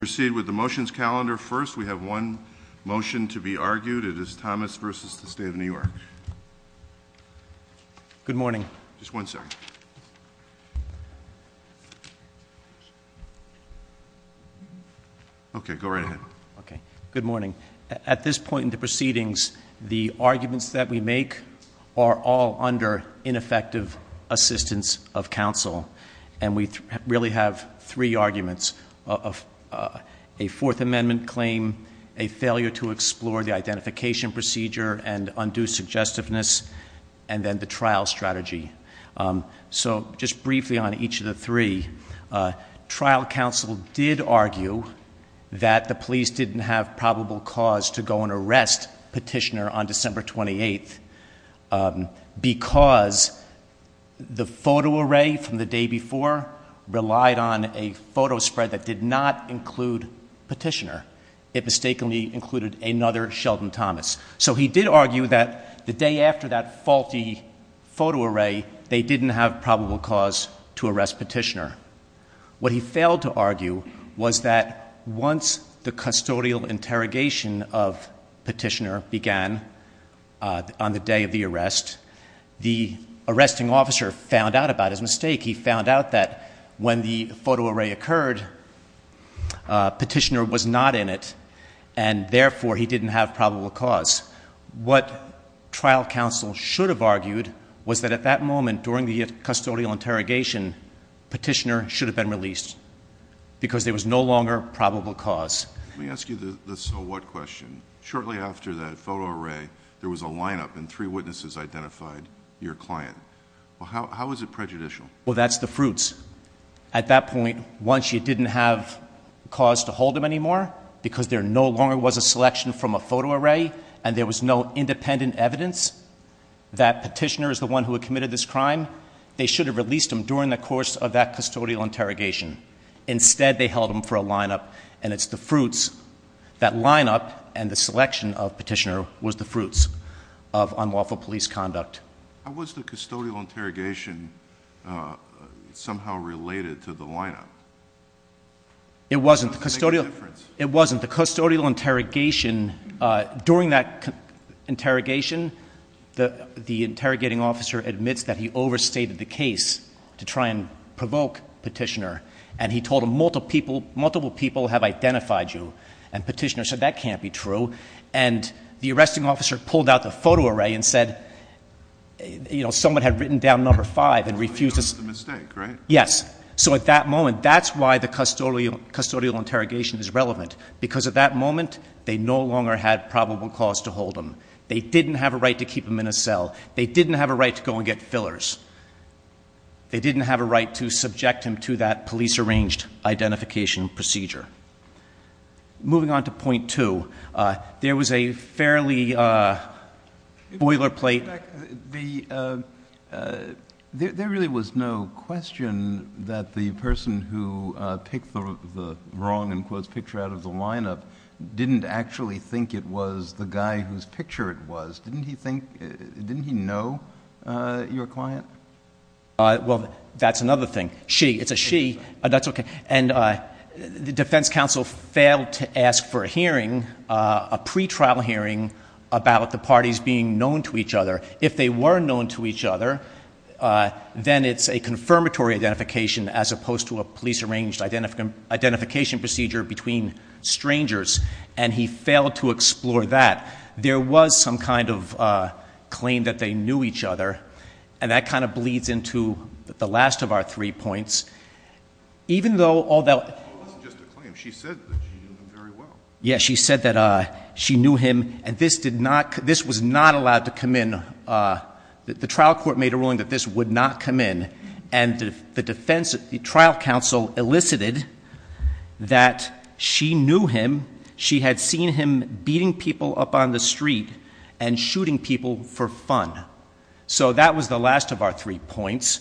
proceed with the motions calendar first we have one motion to be argued it is Thomas versus the State of New York good morning just one second okay go right ahead okay good morning at this point in the proceedings the arguments that we make are all under ineffective assistance of counsel and we really have three arguments of a Fourth Amendment claim a failure to explore the identification procedure and undue suggestiveness and then the trial strategy so just briefly on each of the three trial counsel did argue that the police didn't have probable cause to go and arrest petitioner on December 28th because the photo array from the day before relied on a photo spread that did not include petitioner it mistakenly included another Sheldon Thomas so he did argue that the day after that faulty photo array they didn't have probable cause to arrest petitioner what he failed to argue was that once the arresting officer found out about his mistake he found out that when the photo array occurred petitioner was not in it and therefore he didn't have probable cause what trial counsel should have argued was that at that moment during the custodial interrogation petitioner should have been released because there was no longer probable cause let me ask you this so what question shortly after that photo array there was a lineup and three witnesses identified your client how is it prejudicial well that's the fruits at that point once you didn't have cause to hold him anymore because there no longer was a selection from a photo array and there was no independent evidence that petitioner is the one who had committed this crime they should have released him during the course of that custodial interrogation instead they held him for a lineup and it's the was the fruits of unlawful police conduct was the custodial interrogation somehow related to the lineup it wasn't the custodial it wasn't the custodial interrogation during that interrogation the the interrogating officer admits that he overstated the case to try and provoke petitioner and he told him multiple people multiple people have identified you and petitioner said that can't be true and the arresting officer pulled out the photo array and said you know someone had written down number five and refuses yes so at that moment that's why the custodial custodial interrogation is relevant because of that moment they no longer had probable cause to hold them they didn't have a right to keep him in a cell they didn't have a right to go and get fillers they didn't have a right to subject him to that police arranged identification procedure moving on to point two there was a fairly boilerplate there really was no question that the person who picked the wrong and close picture out of the lineup didn't actually think it was the guy whose picture it was didn't he think didn't he know your client well that's another thing she it's a she that's okay and the defense counsel failed to ask for a hearing a pretrial hearing about the parties being known to each other if they were known to each other then it's a confirmatory identification as opposed to a police arranged identification procedure between strangers and he failed to explore that there was some kind of claim that they knew each other and that kind of bleeds into the last of our three points even though all that yes she said that I she knew him and this did not this was not allowed to come in the trial court made a ruling that this would not come in and the defense of the trial counsel elicited that she knew him she had seen him beating people up on the street and shooting people for fun so that was the last of our three points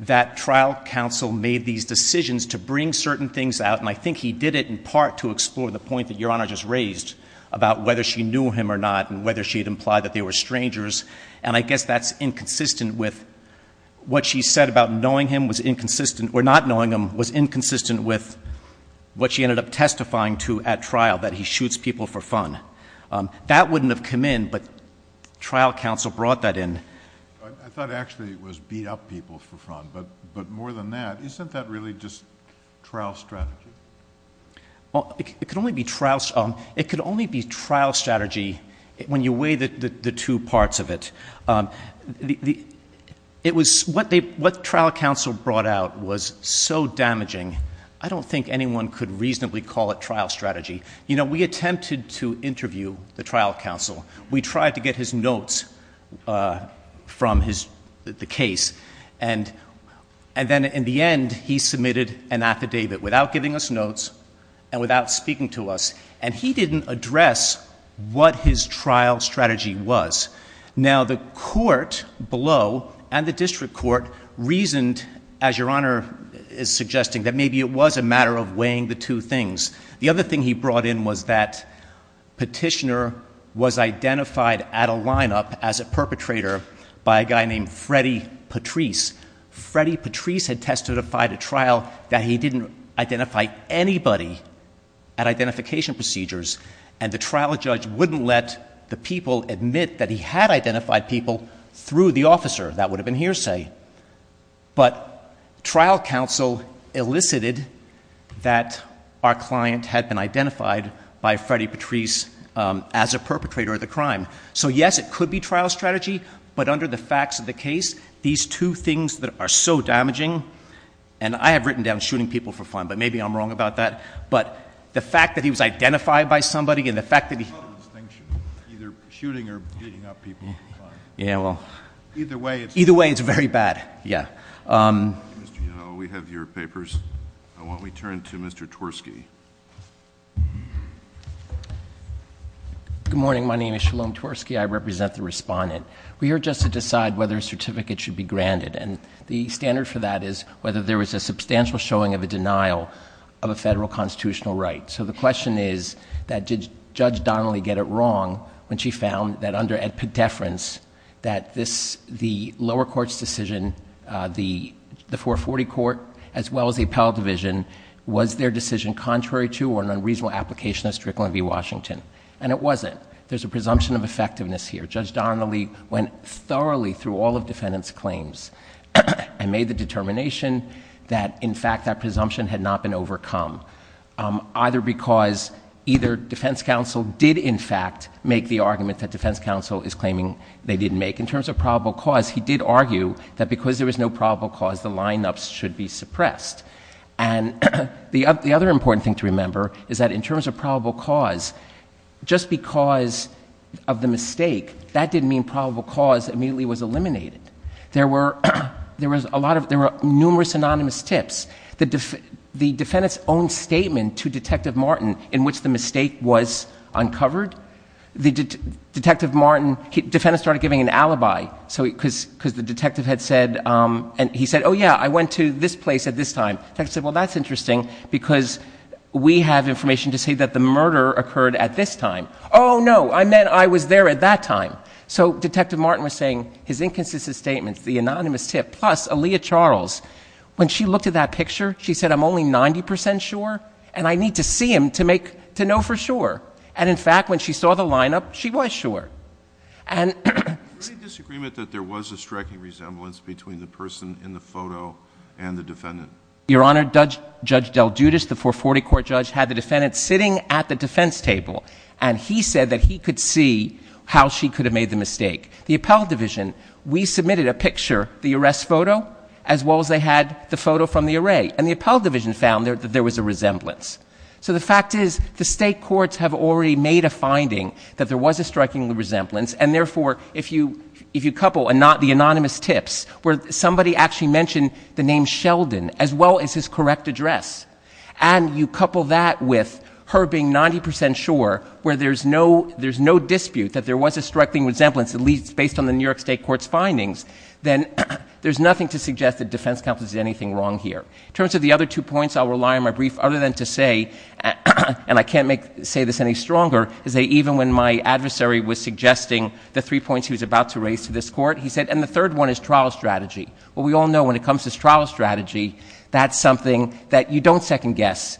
that trial counsel made these decisions to bring certain things out and I think he did it in part to explore the point that your honor just raised about whether she knew him or not and whether she had implied that they were strangers and I guess that's inconsistent with what she said about knowing him was inconsistent or not knowing him was inconsistent with what she ended up that wouldn't have come in but trial counsel brought that in I thought actually it was beat up people for fun but but more than that isn't that really just trial strategy well it could only be trounced on it could only be trial strategy when you weigh that the two parts of it the it was what they what trial counsel brought out was so damaging I don't think anyone could trial counsel we tried to get his notes from his the case and and then in the end he submitted an affidavit without giving us notes and without speaking to us and he didn't address what his trial strategy was now the court below and the district court reasoned as your honor is suggesting that maybe it was a matter of was identified at a lineup as a perpetrator by a guy named Freddy Patrice Freddy Patrice had testified a trial that he didn't identify anybody at identification procedures and the trial judge wouldn't let the people admit that he had identified people through the officer that would have been hearsay but trial counsel elicited that our client had been identified by Freddy perpetrator of the crime so yes it could be trial strategy but under the facts of the case these two things that are so damaging and I have written down shooting people for fun but maybe I'm wrong about that but the fact that he was identified by somebody in the fact that either way either way it's very bad yeah we have your papers I want we turn to mr. Tversky good morning my name is Shalom Tversky I represent the respondent we are just to decide whether a certificate should be granted and the standard for that is whether there was a substantial showing of a denial of a federal constitutional right so the question is that did judge Donnelly get it wrong when she found that under at deference that this the lower courts decision the the 440 court as well as the appellate division was their decision contrary to or an unreasonable application of Strickland v. Washington and it wasn't there's a presumption of effectiveness here judge Donnelly went thoroughly through all of defendants claims and made the determination that in fact that presumption had not been overcome either because either defense counsel did in fact make the argument that defense counsel is claiming they didn't make in terms of probable cause he did argue that because there was no probable cause the lineups should be suppressed and the other important thing to remember is that in terms of probable cause just because of the mistake that didn't mean probable cause immediately was eliminated there were there was a lot of there were numerous anonymous tips the defendants own statement to detective Martin in which the detective Martin he defended started giving an alibi so because because the detective had said and he said oh yeah I went to this place at this time texted well that's interesting because we have information to say that the murder occurred at this time oh no I meant I was there at that time so detective Martin was saying his inconsistent statements the anonymous tip plus a Leah Charles when she looked at that picture she said I'm only ninety percent sure and I need to see him to make to know for sure and in fact when she saw the lineup she was sure and disagreement that there was a striking resemblance between the person in the photo and the defendant your honor judge judge del Judas the 440 court judge had the defendant sitting at the defense table and he said that he could see how she could have made the mistake the appellate division we submitted a picture the arrest photo as well as they had the photo from the array and the appellate division found there that there was a resemblance so the fact is the state courts have already made a finding that there was a striking resemblance and therefore if you if you couple and not the anonymous tips where somebody actually mentioned the name Sheldon as well as his correct address and you couple that with her being 90% sure where there's no there's no dispute that there was a striking resemblance at least based on the New York State courts findings then there's nothing to suggest that defense counsel is anything wrong here in terms of the other two points I'll rely on my brief other than to say and I can't make say this any stronger is they even when my adversary was suggesting the three points he was about to raise to this court he said and the third one is trial strategy well we all know when it comes to trial strategy that's something that you don't second guess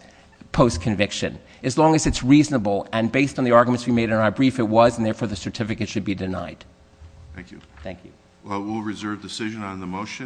post conviction as long as it's reasonable and based on the arguments we made in our brief it was and therefore the certificate should be denied thank you thank you well we'll reserve decision on the motion